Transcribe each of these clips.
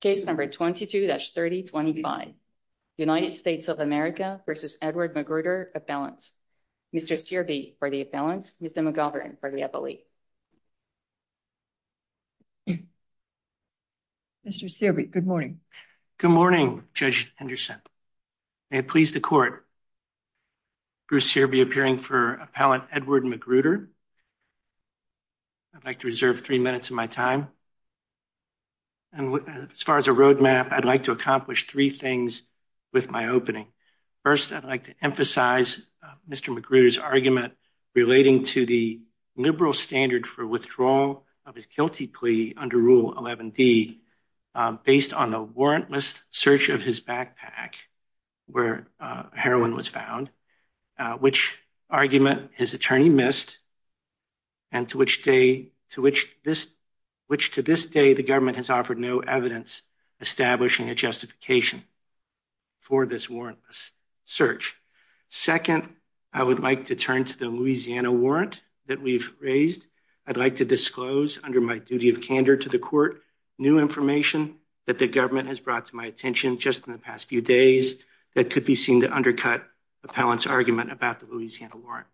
case number 22-3025 United States of America v. Edward Magruder appellants Mr. Searby for the appellants Mr. McGovern for the appellee Mr. Searby good morning good morning Judge Henderson may it please the court Bruce Searby appearing for appellant Edward Magruder I'd like to reserve three minutes of my time and as far as a roadmap I'd like to accomplish three things with my opening first I'd like to emphasize Mr. Magruder's argument relating to the liberal standard for withdrawal of his guilty plea under Rule 11d based on the warrantless search of his backpack where heroin was found which argument his attorney missed and to which day to which this which to this day the government has offered no evidence establishing a justification for this warrantless search second I would like to turn to the Louisiana warrant that we've raised I'd like to disclose under my duty of candor to the court new information that the government has brought to my attention just in the past few days that could be seen to undercut appellants argument about the Louisiana warrant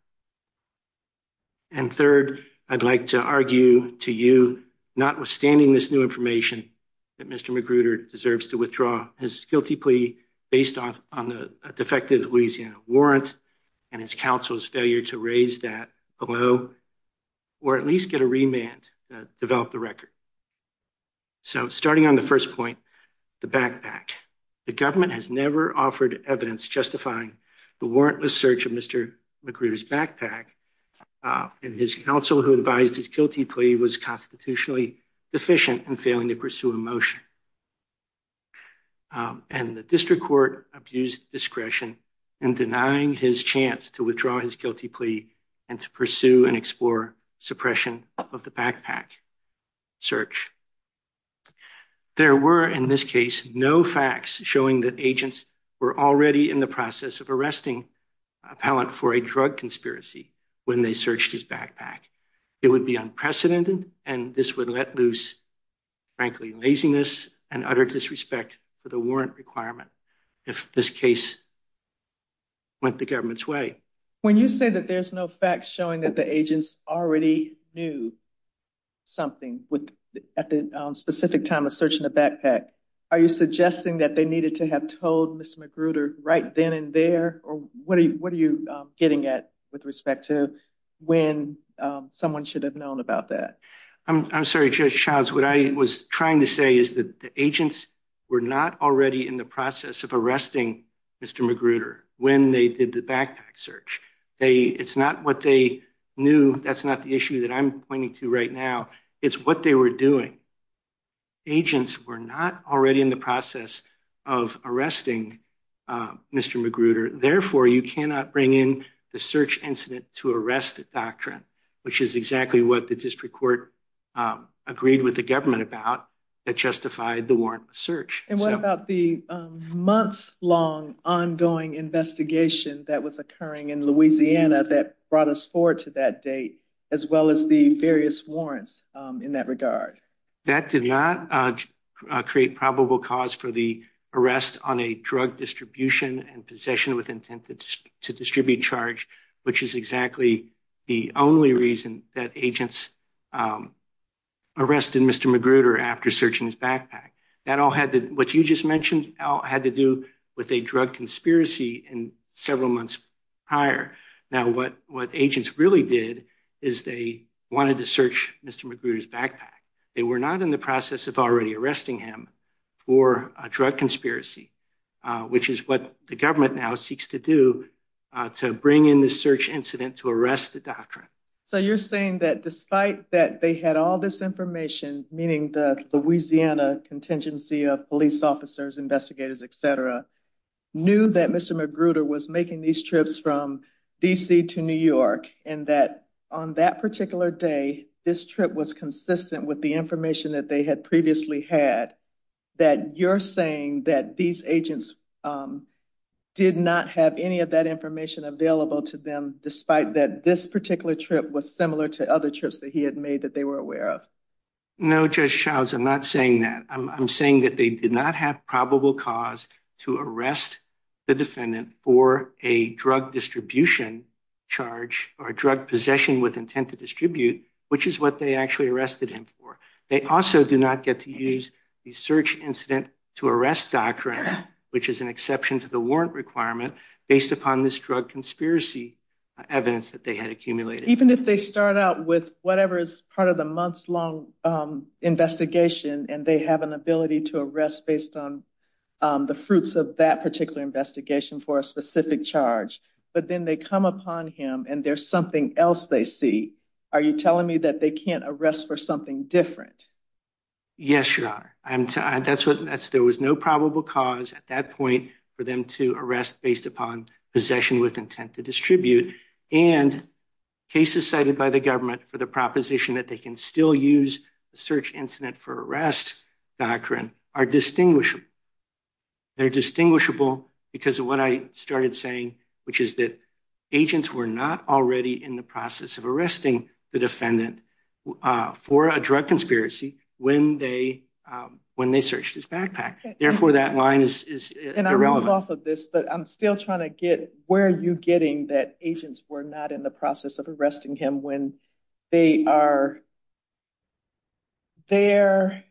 and third I'd like to argue to you notwithstanding this new information that Mr. Magruder deserves to withdraw his guilty plea based on on the defective Louisiana warrant and his counsel's to raise that below or at least get a remand that developed the record so starting on the first point the backpack the government has never offered evidence justifying the warrantless search of Mr. Magruder's backpack and his counsel who advised his guilty plea was constitutionally deficient and failing to pursue a motion and the district court abused discretion in denying his chance to withdraw his guilty plea and to pursue and explore suppression of the backpack search there were in this case no facts showing that agents were already in the process of arresting appellant for a drug conspiracy when they searched his backpack it would be unprecedented and this would let loose frankly laziness and utter disrespect for the warrant requirement if this case went the government's way when you say that there's no facts showing that the agents already knew something with at the specific time of searching the backpack are you suggesting that they needed to have told Ms. Magruder right then and there or what are you what are you getting at with respect to when someone should have known about that I'm sorry Charles what I was trying to say is that the agents were not already in the process of arresting Mr. Magruder when they did the backpack search they it's not what they knew that's not the issue that I'm pointing to right now it's what they were doing agents were not already in the process of arresting Mr. Magruder therefore you cannot bring in the search incident to arrest doctrine which is exactly what the district court agreed with the government about that justified the warrantless search and what about the months long ongoing investigation that was occurring in Louisiana that brought us forward to that date as well as the various warrants in that regard that did not create probable cause for the arrest on a drug distribution and possession with intent to distribute charge which is exactly the only reason that agents arrested Mr. Magruder after searching his backpack that all had what you just mentioned had to do with a drug conspiracy in several months prior now what what agents really did is they wanted to search Mr. Magruder's backpack they were not in the process of already arresting for a drug conspiracy which is what the government now seeks to do to bring in the search incident to arrest the doctrine so you're saying that despite that they had all this information meaning the Louisiana contingency of police officers investigators etc knew that Mr. Magruder was making these trips from DC to New York and that on that particular day this trip was consistent with the information that they had previously had that you're saying that these agents did not have any of that information available to them despite that this particular trip was similar to other trips that he had made that they were aware of no just shouts i'm not saying that i'm saying that they did not have probable cause to arrest the defendant for a drug distribution charge or drug possession with intent to distribute which is what they actually arrested him for they also do not get to use the search incident to arrest doctrine which is an exception to the warrant requirement based upon this drug conspiracy evidence that they had accumulated even if they start out with whatever is part of the months-long investigation and they have an ability to arrest based on the fruits of that particular investigation for a specific charge but then they come upon him and there's something else they see are you telling me that they can't arrest for something different yes your honor i'm that's what that's there was no probable cause at that point for them to arrest based upon possession with intent to distribute and cases cited by the government for the proposition that they can still use the search incident for arrest doctrine are distinguishable they're distinguishable because of what i started saying which is that agents were not already in the process of arresting the defendant for a drug conspiracy when they when they searched his backpack therefore that line is irrelevant off of this but i'm still trying to get where are you getting that agents were not in the process of arresting him when they are there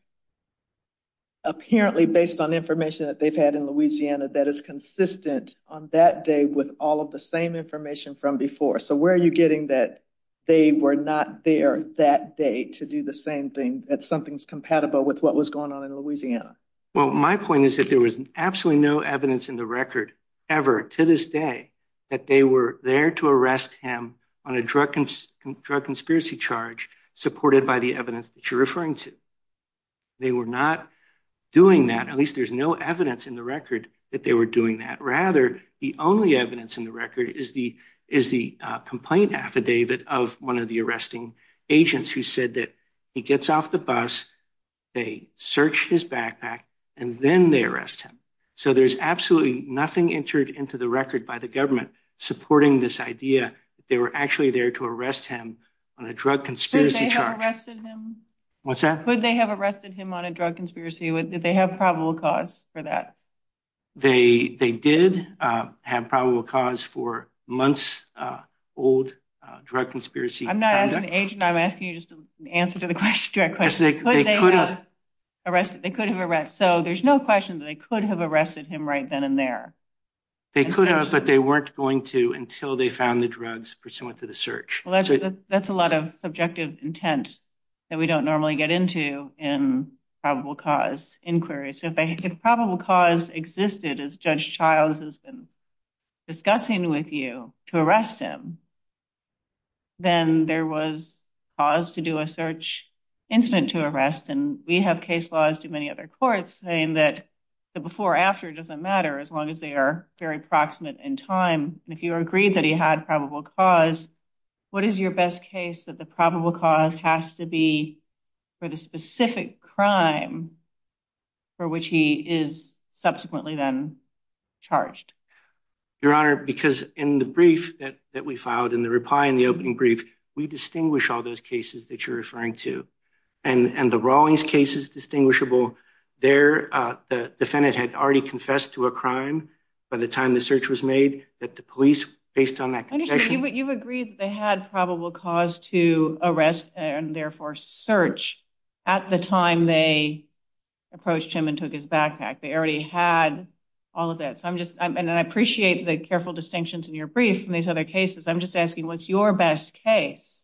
apparently based on information that they've had in louisiana that is consistent on that day with all of the same information from before so where are you getting that they were not there that day to do the same thing that something's compatible with what was going on in louisiana well my point is that there was absolutely no evidence in the record ever to this day that they were there to arrest him on a drug drug conspiracy charge supported by the evidence that you're referring to they were not doing that at least there's no evidence in the record that they were doing that rather the only evidence in the record is the is the complaint affidavit of one of the arresting agents who said that he gets off the bus they search his backpack and then they arrest him so there's absolutely nothing entered into the record by the government supporting this idea they were actually there to arrest him on a drug conspiracy charge what's that could they have arrested him on a drug conspiracy with that they have probable cause for that they they did uh have probable cause for months uh old uh drug conspiracy i'm not as an agent i'm asking you just an answer to the question directly they could have arrested they could have arrested so there's no question that they could have arrested him right then and there they could have but they weren't going to until they found the drugs pursuant to the search well that's that's a lot of subjective intent that we don't normally get into in probable cause inquiries so if they had probable cause existed as judge childs has been discussing with you to arrest him then there was cause to do a search incident to arrest and we have case laws to many other courts saying that the before after doesn't matter as long as they are very proximate in time and if you agreed that he had probable cause what is your best case that the probable cause has to be for the specific crime for which he is subsequently then charged your honor because in the brief that that we filed in the reply in the opening brief we distinguish all those cases that you're referring to and and the rawlings case is distinguishable there uh the defendant had already confessed to a crime by the time the search was made that the police based on that you've agreed they had probable cause to arrest and therefore search at the time they approached him and took his backpack they already had all of that so i'm just and i appreciate the careful distinctions in your brief from these other cases i'm just asking what's your best case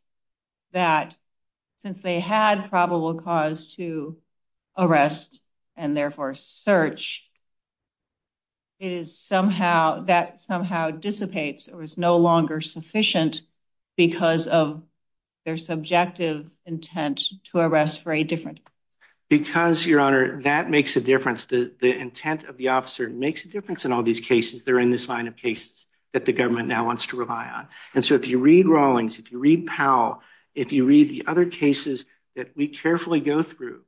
that since they had probable cause to arrest and therefore search it is somehow that somehow dissipates or is no longer sufficient because of their subjective intent to arrest for a different because your honor that makes a difference the the intent of the officer makes a difference in all these cases they're in this line of cases that the government now wants to rely on and so if you read rawlings if you read powell if you read the other cases that we carefully go through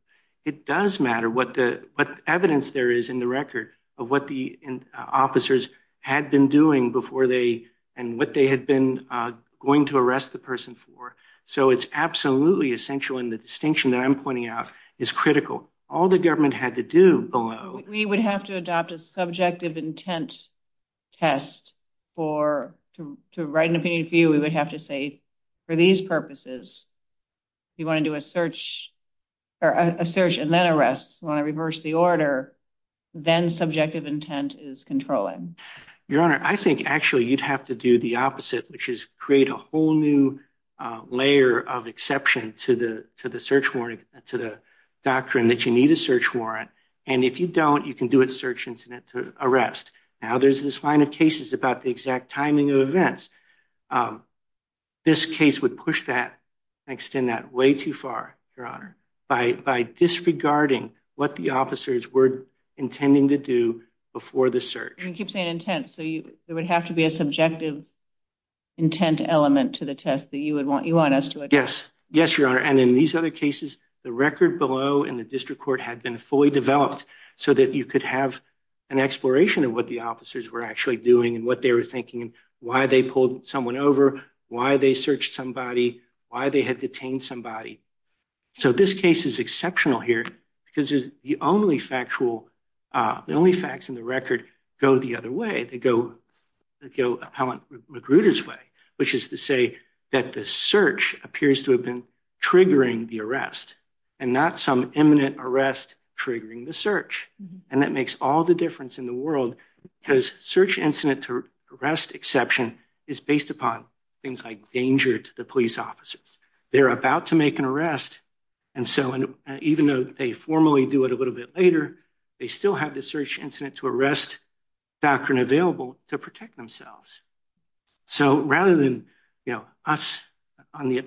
it does matter what the what evidence there is in the record of what the officers had been doing before they and what they had been going to arrest the person for so it's absolutely essential in the distinction that i'm pointing out is critical all the government had to do below we would have to adopt a subjective intent test for to write an opinion for you we would have to say for these purposes you want to do a search or a search and then arrests when i reverse the order then subjective intent is controlling your honor i think actually you'd have to do the opposite which is create a whole new layer of exception to the to the search warrant to the doctrine that you need a search warrant and if you don't you can do a search incident to arrest now there's this line of cases about the exact timing of events this case would push that and extend that way too far your honor by by disregarding what the officers were intending to do before the search you keep saying intent so you there would have to be a subjective intent element to the test that you would want you want us to yes yes your honor and in these other cases the record below and the district court had been fully developed so that you could have an exploration of what the officers were actually doing and what they were thinking why they pulled someone over why they searched somebody why they had detained somebody so this case is exceptional here because there's the only factual uh the only facts in the record go the other way they go they go appellant magruder's way which is to say that the search appears to have been triggering the arrest and not some imminent arrest triggering the search and that makes all the difference in the world because search incident to arrest exception is based upon things like danger to the police officers they're about to make an arrest and so and even though they formally do it a little bit later they still have the search incident to arrest doctrine available to protect themselves so rather than you know us on the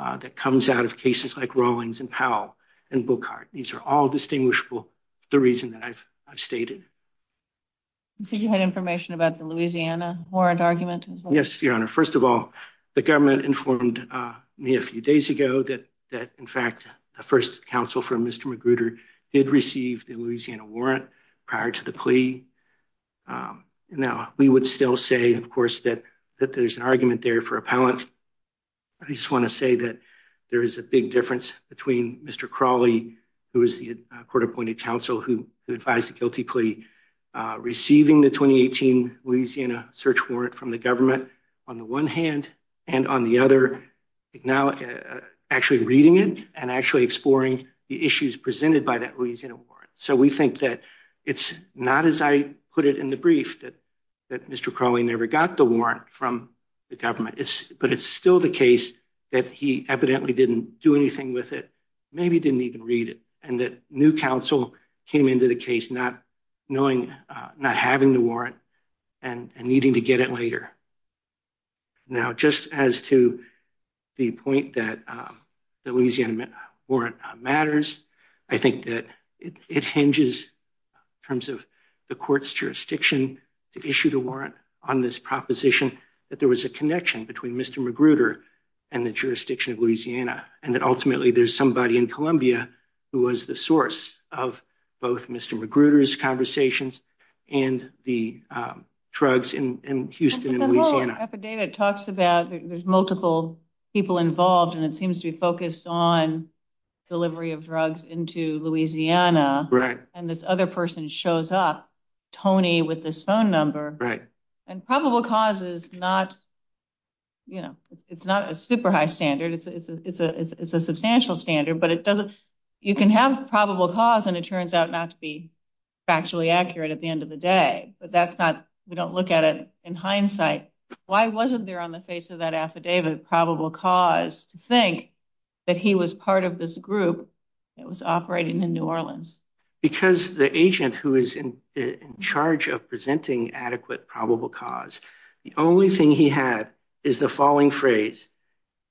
uh that comes out of cases like rollings and powell and bookhart these are all distinguishable the reason that i've i've stated i think you had information about the louisiana warrant argument yes your honor first of all the government informed uh me a few days ago that that in fact the first counsel for mr magruder did receive the louisiana warrant prior to the plea now we would still say of course that that there's an argument there for appellant just want to say that there is a big difference between mr crawley who is the court appointed counsel who advised the guilty plea uh receiving the 2018 louisiana search warrant from the government on the one hand and on the other now actually reading it and actually exploring the issues presented by that louisiana warrant so we think that it's not as i put it in the brief that that mr crawley never got the warrant from the government it's but it's still the case that he evidently didn't do anything with it maybe didn't even read it and that new council came into the case not knowing uh not having the warrant and needing to get it later now just as to the point that um the louisiana warrant matters i think that it hinges in terms the court's jurisdiction to issue the warrant on this proposition that there was a connection between mr magruder and the jurisdiction of louisiana and that ultimately there's somebody in columbia who was the source of both mr magruder's conversations and the um drugs in in houston and louisiana affidavit talks about there's multiple people involved and it seems to be focused on delivery of drugs into louisiana right and this other person shows up tony with this phone number right and probable cause is not you know it's not a super high standard it's it's a it's a substantial standard but it doesn't you can have probable cause and it turns out not to be factually accurate at the end of the day but that's not we don't look at it hindsight why wasn't there on the face of that affidavit probable cause to think that he was part of this group that was operating in new orleans because the agent who is in in charge of presenting adequate probable cause the only thing he had is the following phrase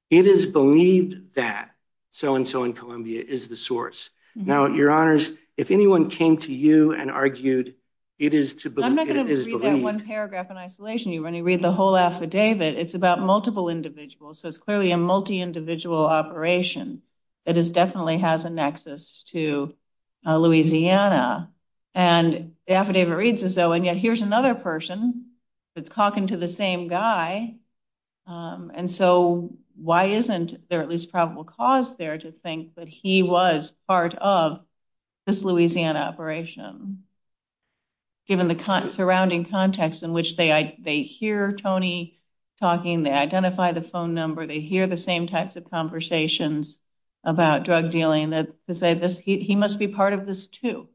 it is believed that so and so in columbia is the source now your honors if anyone came to you and argued it is to but i'm not going to read that one paragraph in isolation you're going to read the whole affidavit it's about multiple individuals so it's clearly a multi-individual operation that is definitely has a nexus to louisiana and the affidavit reads as though and yet here's another person that's talking to the same guy and so why isn't there at least probable cause there to think that he was part of this louisiana operation given the surrounding context in which they they hear tony talking they identify the phone number they hear the same types of conversations about drug dealing that to say this he must be part of this too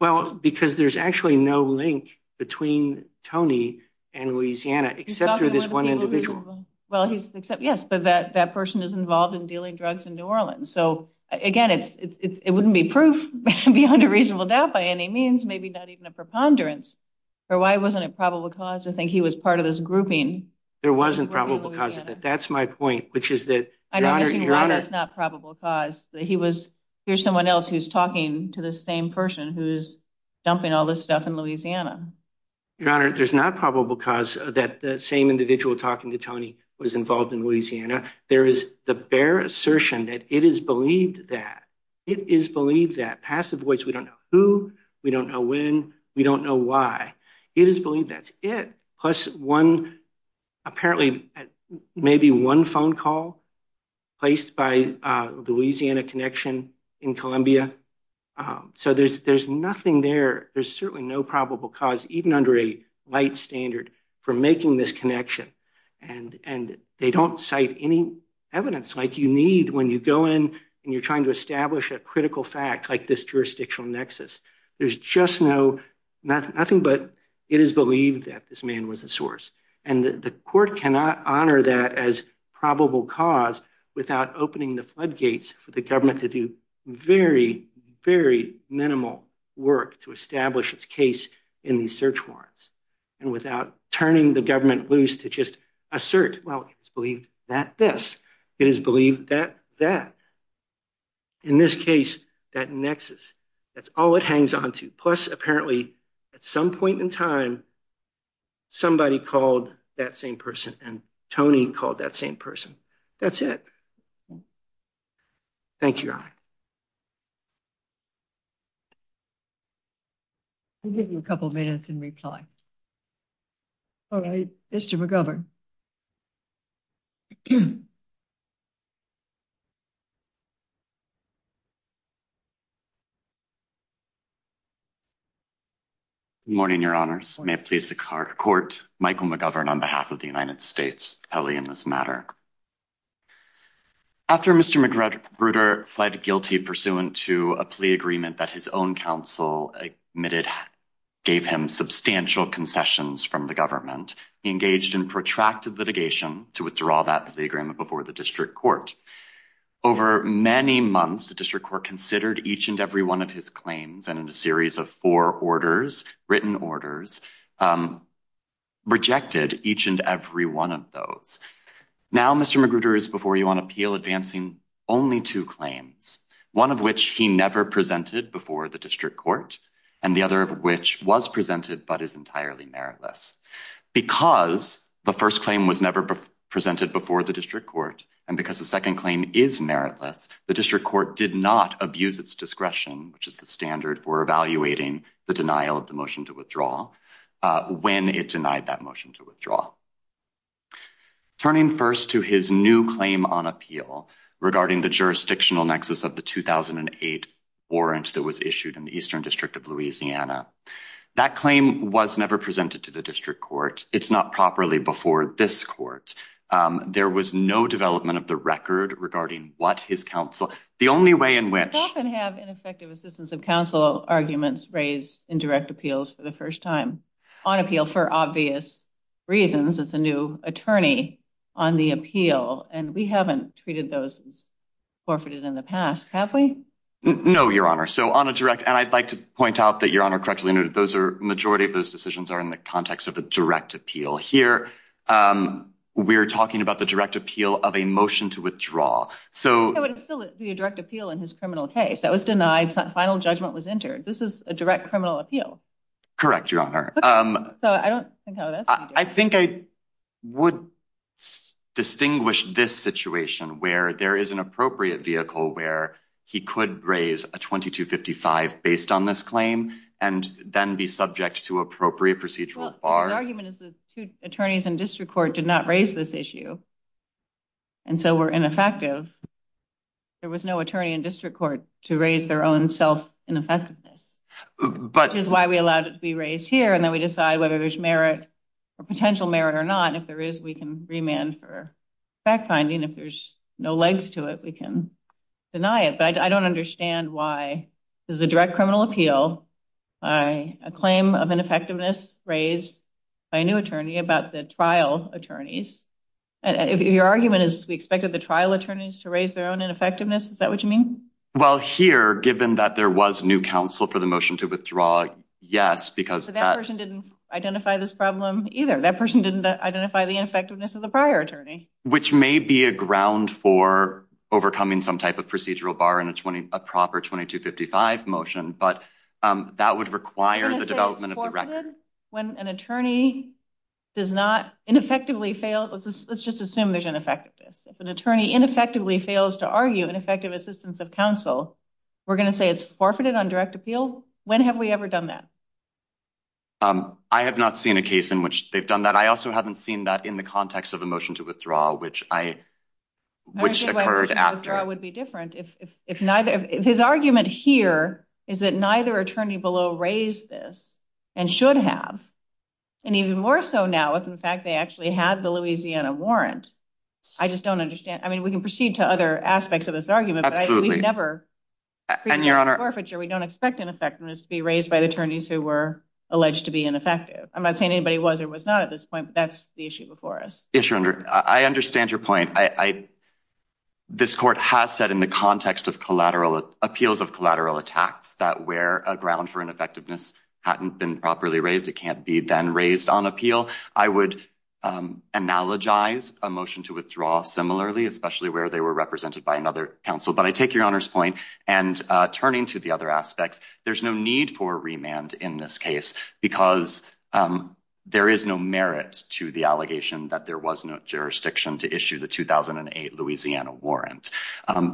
well because there's actually no link between tony and louisiana except for this one individual well he's except yes but that that is involved in dealing drugs in new orleans so again it's it wouldn't be proof beyond a reasonable doubt by any means maybe not even a preponderance or why wasn't it probable cause to think he was part of this grouping there wasn't probable cause of that that's my point which is that i don't know that's not probable cause that he was here's someone else who's talking to the same person who's dumping all this stuff in louisiana your honor there's not probable cause that the same individual talking to tony was involved in louisiana there is the bare assertion that it is believed that it is believed that passive voice we don't know who we don't know when we don't know why it is believed that's it plus one apparently maybe one phone call placed by louisiana connection in columbia so there's there's nothing there there's certainly no probable cause even under a light standard for making this connection and and they don't cite any evidence like you need when you go in and you're trying to establish a critical fact like this jurisdictional nexus there's just no not nothing but it is believed that this man was the source and the court cannot honor that as probable cause without opening the floodgates for the government to do very very minimal work to establish its case in these search warrants and without turning the government loose to just assert well it's believed that this it is believed that that in this case that nexus that's all it hangs on to plus apparently at some point in time somebody called that same person and tony called that same person that's it thank you i'll give you a couple minutes in reply all right mr mcgovern morning your honors may it please the court michael mcgovern on behalf of the united states pelly in this matter after mr mcgruder fled guilty pursuant to a plea agreement that his own counsel admitted gave him substantial concessions from the government engaged in protracted litigation to withdraw that the agreement before the district court over many months the district court considered each and every one of his claims and in a series of four orders written orders rejected each and every one of those now mr mcgruder is before you on appeal advancing only two claims one of which he never presented before the district court and the other of which was presented but is entirely meritless because the first claim was never presented before the district court and because the second claim is meritless the court did not abuse its discretion which is the standard for evaluating the denial of the motion to withdraw when it denied that motion to withdraw turning first to his new claim on appeal regarding the jurisdictional nexus of the 2008 warrant that was issued in the eastern district of louisiana that claim was never presented to the district court it's not properly before this court there was no development of the record regarding what his counsel the only way in which often have ineffective assistance of counsel arguments raised in direct appeals for the first time on appeal for obvious reasons it's a new attorney on the appeal and we haven't treated those as forfeited in the past have we no your honor so on a direct and i'd like to point out that your honor correctly noted those are majority of those decisions are in the context of a direct appeal here um we're talking about the direct appeal of a motion to withdraw so it would still be a direct appeal in his criminal case that was denied final judgment was entered this is a direct criminal appeal correct your honor um so i don't i think i would distinguish this situation where there is an appropriate vehicle where he could raise a 22 55 based on this claim and then be subject to appropriate procedural argument is the two attorneys in district court did not raise this issue and so we're ineffective there was no attorney in district court to raise their own self ineffectiveness but which is why we allowed it to be raised here and then we decide whether there's merit or potential merit or not if there is we can remand for fact finding if there's no legs to it we can deny it but i don't understand why this is a direct criminal appeal by a claim of ineffectiveness raised by a new attorney about the trial attorneys and if your argument is we expected the trial attorneys to raise their own ineffectiveness is that what you mean well here given that there was new counsel for the motion to withdraw yes because that person didn't identify this problem either that person didn't identify the ineffectiveness of the prior attorney which may be a ground for overcoming some type of procedural bar in a 20 a proper 22 55 motion but that would require the development of the record when an attorney does not ineffectively fail let's just assume there's ineffectiveness if an attorney ineffectively fails to argue an effective assistance of counsel we're going to say it's forfeited on direct appeal when have we ever done that um i have not seen a case in which they've done that i also haven't seen that in the context of a motion to withdraw which i which occurred after i would be different if if neither if his argument here is that neither attorney below raised this and should have and even more so now if in fact they actually had the louisiana warrant i just don't understand i mean we can proceed to other aspects of this argument absolutely never and your honor forfeiture we don't expect ineffectiveness to be raised by the attorneys who were alleged to be ineffective i'm not saying anybody was or was not at this that's the issue before us yes your honor i understand your point i i this court has said in the context of collateral appeals of collateral attacks that where a ground for ineffectiveness hadn't been properly raised it can't be then raised on appeal i would analogize a motion to withdraw similarly especially where they were represented by another counsel but i take your honor's point and uh turning to the other aspects there's no need for remand in this case because there is no merit to the allegation that there was no jurisdiction to issue the 2008 louisiana warrant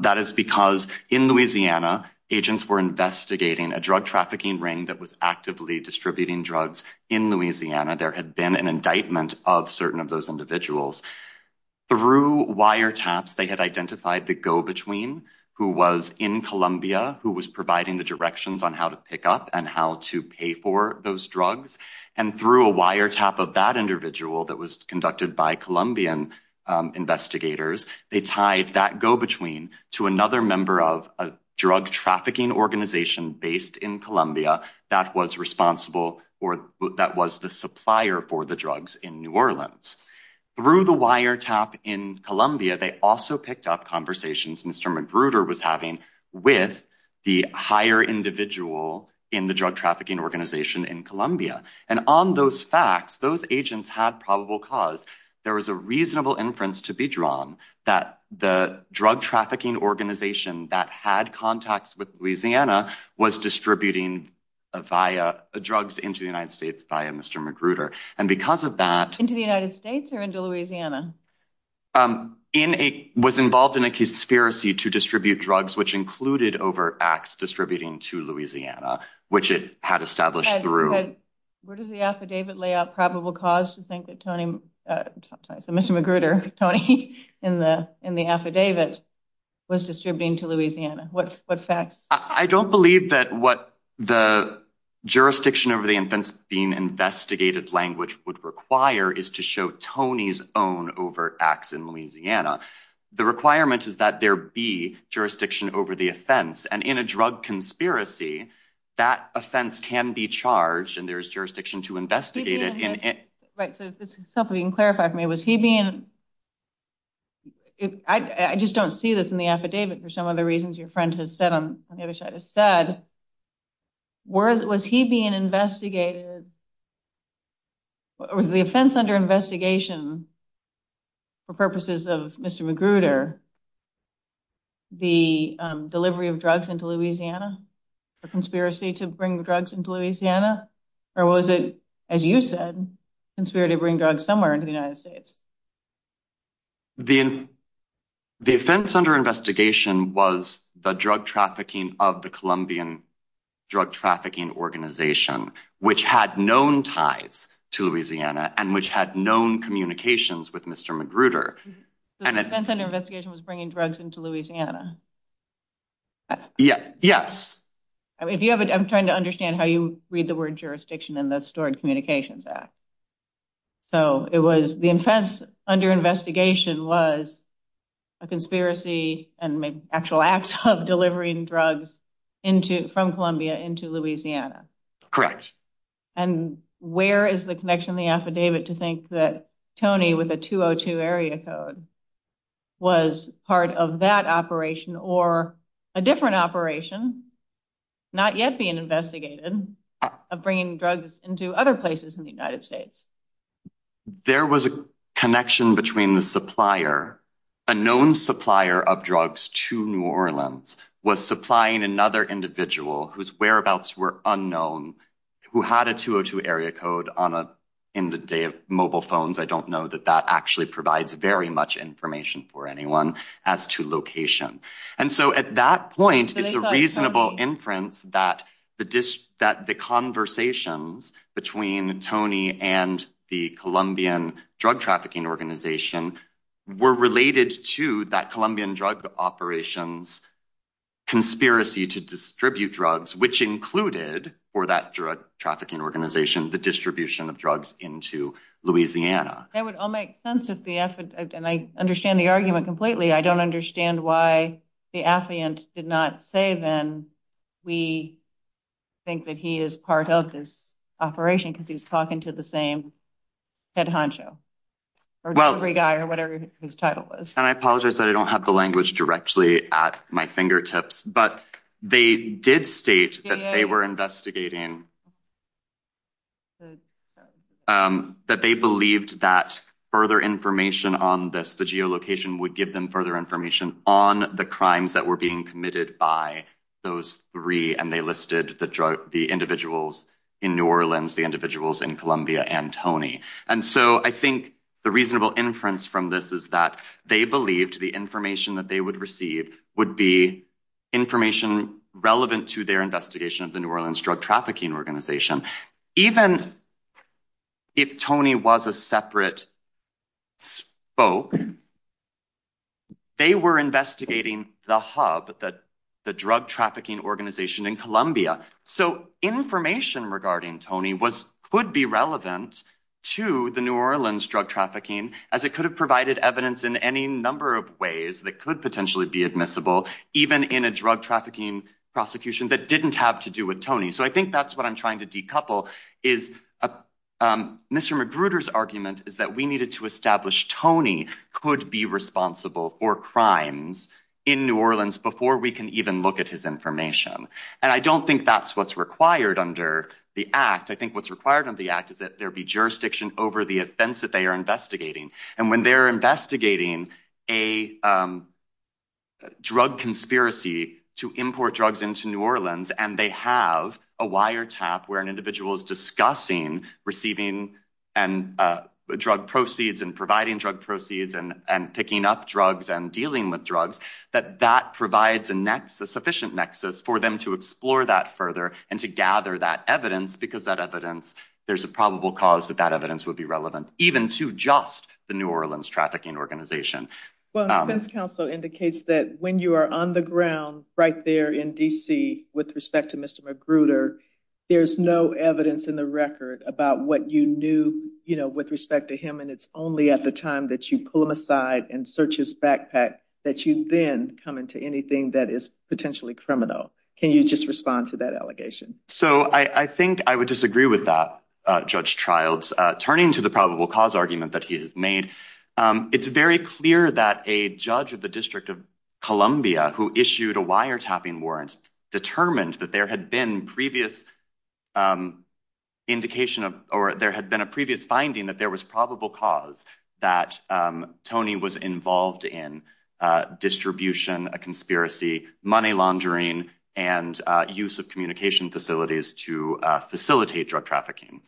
that is because in louisiana agents were investigating a drug trafficking ring that was actively distributing drugs in louisiana there had been an indictment of certain of those individuals through wiretaps they had identified the go-between who was in columbia who was providing the directions on how to pick up and how to pay for those drugs and through a wiretap of that individual that was conducted by columbian investigators they tied that go-between to another member of a drug trafficking organization based in columbia that was responsible for that was the supplier for the drugs in new orleans through the wiretap in columbia they also picked up conversations mr magruder was having with the higher individual in the drug trafficking organization in columbia and on those facts those agents had probable cause there was a reasonable inference to be drawn that the drug trafficking organization that had contacts with louisiana was distributing via drugs into the united states via mr magruder and because of that into the united states or into louisiana um in a was involved in a conspiracy to distribute drugs which included over acts distributing to louisiana which it had established through where does the affidavit lay out probable cause to think that tony uh mr magruder tony in the in the affidavit was distributing to louisiana what what facts i don't believe that what the jurisdiction over the infants being investigated language would require is to show tony's own over acts in louisiana the requirement is that there be jurisdiction over the offense and in a drug conspiracy that offense can be charged and there's jurisdiction to investigate it in it right so this is something you can clarify for me was he being i just don't see this in the affidavit for some of the reasons your friend has said on the other side has said where was he being investigated was the offense under investigation for purposes of mr magruder the delivery of drugs into louisiana a conspiracy to bring the drugs into louisiana or was it as you said conspired to bring drugs somewhere into the united states the the offense under investigation was the drug trafficking of the colombian drug trafficking organization which had known ties to louisiana and which had known communications with mr magruder and the investigation was bringing drugs into louisiana yeah yes i mean if you have i'm trying to understand how you read the word jurisdiction in the stored communications act so it was the offense under investigation was a conspiracy and maybe actual acts of delivering drugs into from columbia into louisiana correct and where is the connection the affidavit to think that tony with a 202 area code was part of that operation or a different operation not yet being investigated of bringing drugs into other places in the united states there was a connection between the supplier a known supplier of drugs to new orleans was supplying another individual whose whereabouts were unknown who had a 202 area code on a in the day of mobile phones i don't know that that actually provides very much information for anyone as to location and so at that point it's a reasonable inference that the dish that the conversations between tony and the colombian drug trafficking organization were related to that colombian drug operations conspiracy to distribute drugs which included for that drug trafficking organization the distribution of drugs into louisiana that would all make sense if the and i understand the argument completely i don't understand why the affiant did not say then we think that he is part of this operation because he's talking to the same head honcho or every guy or whatever his title was and i apologize that i don't have the language directly at my fingertips but they did state that they were investigating that they believed that further information on this the geolocation would give them further information on the crimes that were being committed by those three and they listed the drug the individuals in new orleans the individuals in columbia and tony and so i think the reasonable inference from this is that they believed the information that they would receive would be information relevant to their investigation of the new orleans drug trafficking organization organization even if tony was a separate spoke they were investigating the hub that the drug trafficking organization in columbia so information regarding tony was could be relevant to the new orleans drug trafficking as it could have provided evidence in any number of ways that could potentially be admissible even in a drug trafficking prosecution that didn't have to do with so i think that's what i'm trying to decouple is mr mcgruder's argument is that we needed to establish tony could be responsible for crimes in new orleans before we can even look at his information and i don't think that's what's required under the act i think what's required under the act is that there be jurisdiction over the offense that they are investigating and when they're investigating a drug conspiracy to import drugs into new orleans and they have a wiretap where an individual is discussing receiving and uh drug proceeds and providing drug proceeds and and picking up drugs and dealing with drugs that that provides a nexus sufficient nexus for them to explore that further and to gather that evidence because that evidence there's a probable cause that that evidence would be relevant even to just the new orleans trafficking organization well this council indicates that when you are on the ground right there in dc with respect to mr mcgruder there's no evidence in the record about what you knew you know with respect to him and it's only at the time that you pull him aside and search his backpack that you then come into anything that is potentially criminal can you just respond to that allegation so i i think i would disagree with that uh judge trials uh turning to the probable cause argument that he has made um it's very clear that a judge of the district of columbia who issued a wiretapping warrant determined that there had been previous indication of or there had been a previous finding that there was probable cause that um tony was involved in uh distribution a conspiracy money laundering and uh use of communication facilities to uh facilitate drug trafficking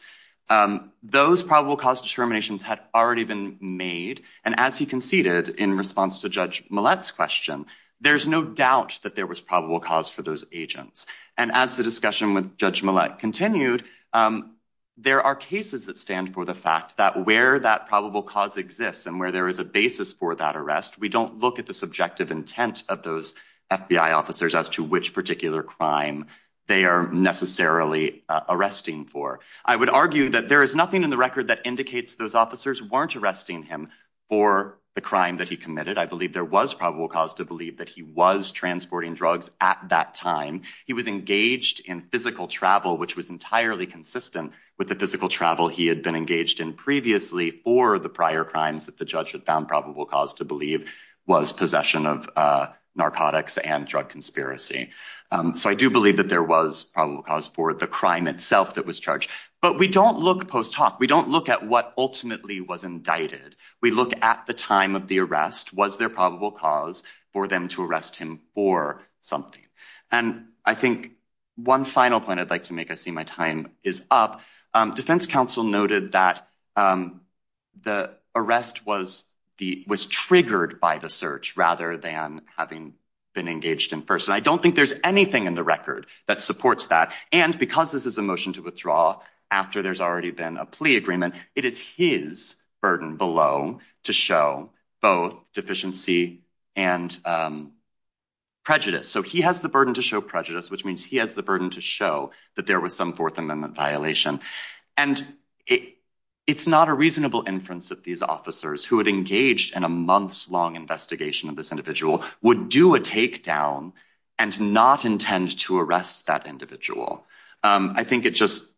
um those probable cause determinations had already been made and as he conceded in response to judge millet's question there's no doubt that there was probable cause for those agents and as the discussion with judge millet continued um there are cases that stand for the fact that where that probable cause exists and where there is a basis for that arrest we don't look at the subjective intent of those fbi officers as to which particular crime they are necessarily arresting for i would argue that there is nothing in the record that indicates those officers weren't arresting him for the crime that he committed i believe there was probable cause to believe that he was transporting drugs at that time he was engaged in physical travel which was entirely consistent with the physical travel he had been engaged in previously for the prior crimes that the judge had found probable cause to believe was possession of uh narcotics and drug conspiracy um so i do believe that there was probable cause for the crime itself that was charged but we don't look post hoc we don't look at what ultimately was indicted we look at the time of the arrest was there probable cause for them to arrest him for something and i think one final point i'd like to make i see my time is up um defense council noted that um the arrest was the was triggered by the search rather than having been engaged in first and i don't think there's anything in the record that supports that and because this is a motion to withdraw after there's already been a plea agreement it is his burden below to show both deficiency and um prejudice so he has the burden to show prejudice which means he has the burden to show that there was some fourth amendment violation and it it's not a reasonable inference that these officers who had engaged in a month's long investigation of this individual would do a takedown and not intend to arrest that individual um i think it just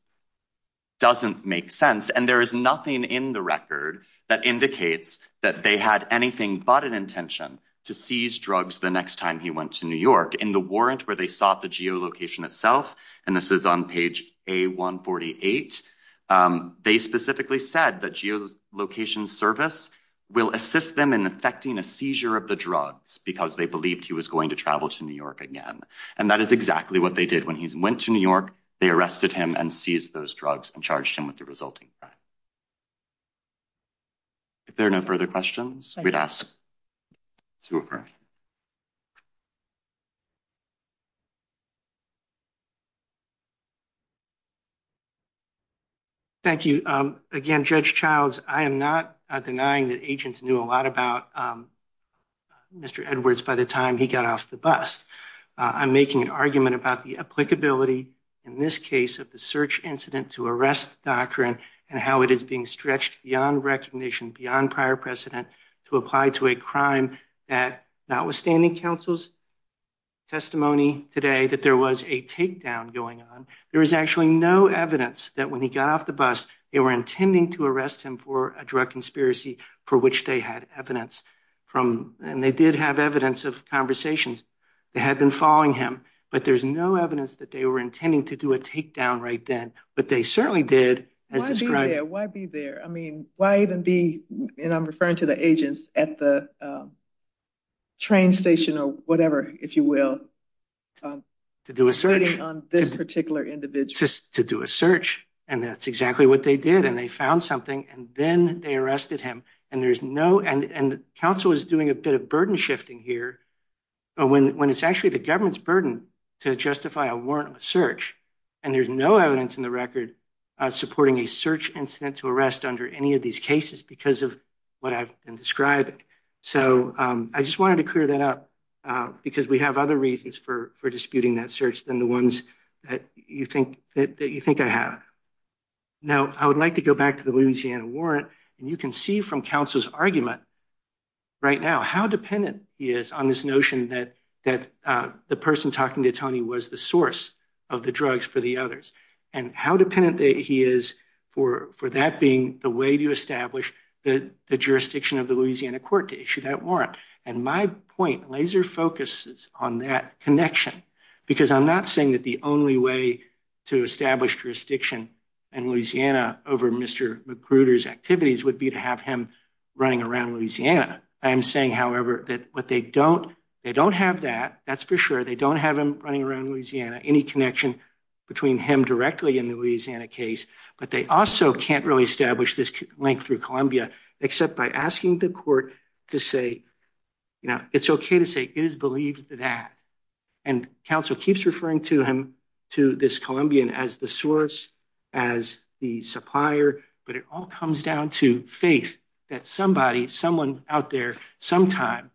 doesn't make sense and there is nothing in the record that indicates that they had anything but an intention to seize drugs the next time he went to new york in the warrant where they sought the geolocation itself and this is on page a 148 um they specifically said that geolocation service will assist them in effecting a seizure of the drugs because they believed he was going to travel to new york again and that is exactly what they did when he went to new york they arrested him and seized those drugs and charged him with the resulting crime if there are no further questions we'd ask super thank you um again judge childs i am not denying that agents knew a lot about um mr edwards by the time he got off the bus i'm making an argument about the applicability in this case of the search incident to arrest doctrine and how it is being stretched beyond recognition beyond prior precedent to apply to a crime that notwithstanding counsel's testimony today that there was a takedown going on there was actually no evidence that when he got off the bus they were intending to arrest him for a drug conspiracy for which they had evidence from and they did have evidence of conversations they had been following him but there's no evidence that they were intending to do a takedown right then but they certainly did as described why be there i mean why even be and i'm referring to the agents at the train station or whatever if you will to do a search on this particular individual just to do a search and that's exactly what they did and they found something and then they arrested him and there's no and and counsel is doing a bit of burden shifting here but when when it's actually the government's burden to justify a warrant of search and there's no evidence in the record uh supporting a search incident to arrest under any of these cases because of what i've been describing so um i just wanted to clear that up uh because we have other reasons for for disputing that search than the ones that you think that you think i have now i would like to go back to the louisiana warrant and you can see from counsel's argument right now how dependent he is on this notion that that uh the person talking to tony was the source of the drugs for the others and how dependent that he is for for that being the way to establish the the jurisdiction of the louisiana court to issue that warrant and my point laser focuses on that connection because i'm not saying that the only way to establish jurisdiction in louisiana over mr maccruder's activities would be to have him running around louisiana i am saying however that what they don't they don't have that that's for sure they don't have him running around louisiana any connection between him directly in the louisiana case but they also can't really establish this link through columbia except by asking the court to say you know it's okay to say it is believed that and counsel keeps referring to him to this columbian as the source as the supplier but it all comes down to faith that somebody someone out there sometime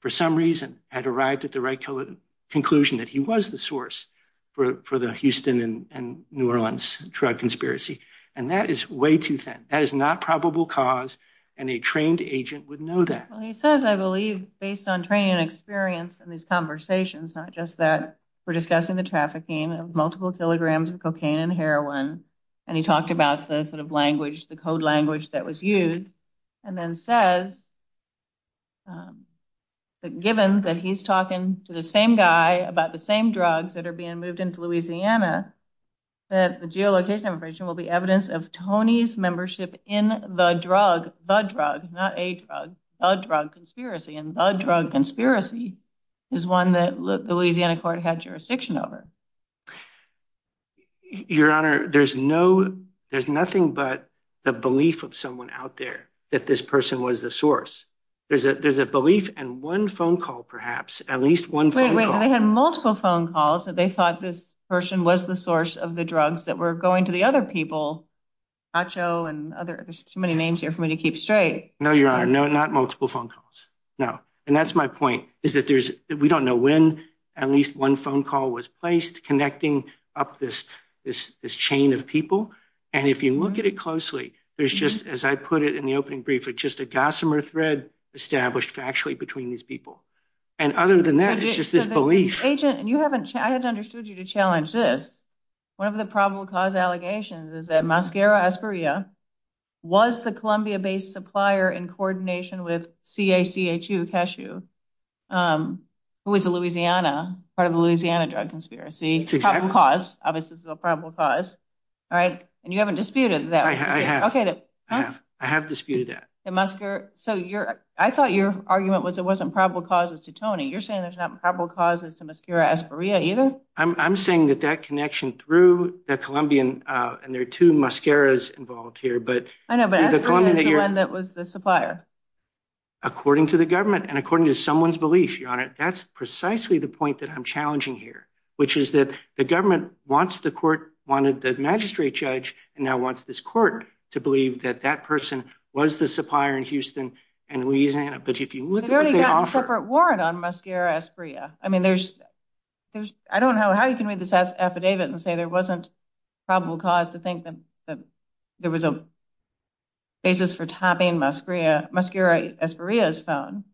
for some reason had arrived at the right color conclusion that he was the source for for the houston and new orleans drug conspiracy and that is way too thin that is not probable cause and a trained agent would know that well he says i believe based on training and experience and these conversations not just that we're discussing the trafficking of multiple kilograms of cocaine and heroin and he talked about the sort of language the code language that was used and then says um given that he's talking to the same guy about the same drugs that are being moved into louisiana that the geolocation information will be evidence of tony's membership in the drug the drug not a drug a drug conspiracy and the drug conspiracy is one that louisiana court had jurisdiction over your honor there's no there's nothing but the belief of someone out there that this person was the source there's a there's a belief and one phone call perhaps at least one way they had multiple phone calls that they thought this person was the source of the drugs that were going to the other people acho and other there's too many names here for me to keep straight no your honor no not multiple phone calls no and that's my point is that there's we don't know when at least one phone call was placed connecting up this this this chain of people and if you look at it closely there's just as i put it in the opening brief it's just a gossamer thread established factually between these people and other than that it's just this belief agent and you haven't i hadn't understood you to challenge this one of the probable cause allegations is that mascara asperia was the columbia-based supplier in coordination with cachu cashew um who is a louisiana part of louisiana drug conspiracy cause obviously this is a probable cause all right and you haven't disputed that i have okay i have i have disputed that the musker so you're i thought your argument was it wasn't probable causes to tony you're saying there's not probable causes to mascara asperia either i'm i'm saying that that connection through the columbian uh and there are two mascaras involved here but i know but that was the supplier according to the government and according to someone's belief your honor that's precisely the point that i'm challenging here which is that the government wants the court wanted the magistrate judge and now wants this court to believe that that person was the supplier in houston and louisiana but if you look at what they offer a separate warrant on mascara asperia i mean there's there's i don't know how you can read this affidavit and say there wasn't probable cause to think that that there was a basis for muscaria muscaria asperia's phone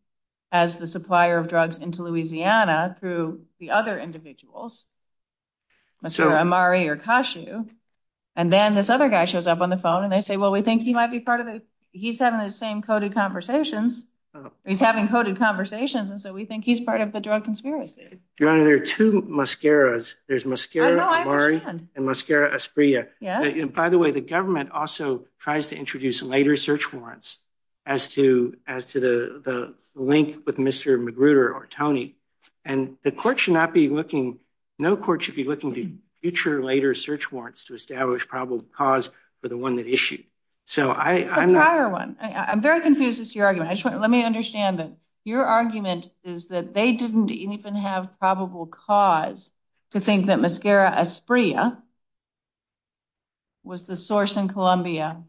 as the supplier of drugs into louisiana through the other individuals amari or kashu and then this other guy shows up on the phone and they say well we think he might be part of it he's having the same coded conversations he's having coded conversations and so we think he's part of the drug conspiracy your honor there are two mascaras there's muscaria amari and muscaria asperia yes and by the way the government also tries to introduce later search warrants as to as to the the link with mr magruder or tony and the court should not be looking no court should be looking to future later search warrants to establish probable cause for the one that issued so i i'm not higher one i'm very confused as to your argument i just want let me understand that your argument is that they didn't even have probable cause to think that muscaria asperia was the source in columbia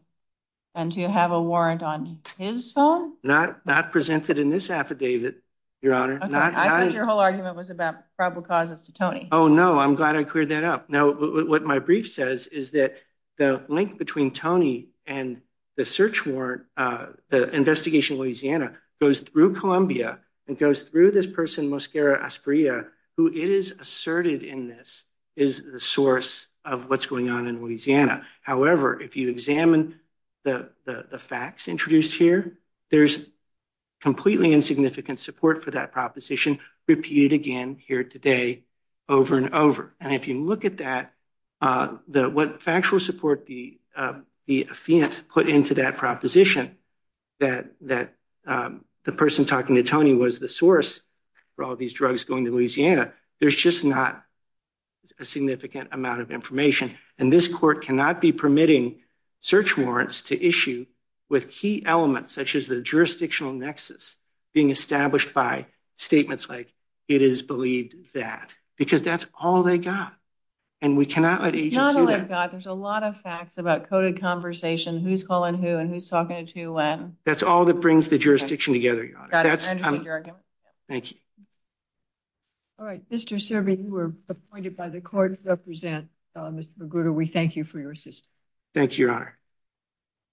and to have a warrant on his phone not not presented in this affidavit your honor i think your whole argument was about probable causes to tony oh no i'm glad i cleared that up now what my brief says is that the link between tony and the search warrant uh the investigation louisiana goes through columbia and goes through this person muscaria asperia who it is asserted in this is the source of what's going on in louisiana however if you examine the the facts introduced here there's completely insignificant support for that proposition repeated again here today over and over and if you look at that uh the what factual support the uh the affiant put into that proposition that that um the person talking to tony was the source for all these drugs going to louisiana there's just not a significant amount of information and this court cannot be permitting search warrants to issue with key elements such as the jurisdictional nexus being established by statements like it is believed that because that's all they got and we cannot let agency god there's a lot of facts about coded conversation who's calling who and who's talking to when that's all that brings the jurisdiction together your honor that's thank you all right mr serby you were appointed by the court to represent mr magruder we thank you for your assistance thank you your honor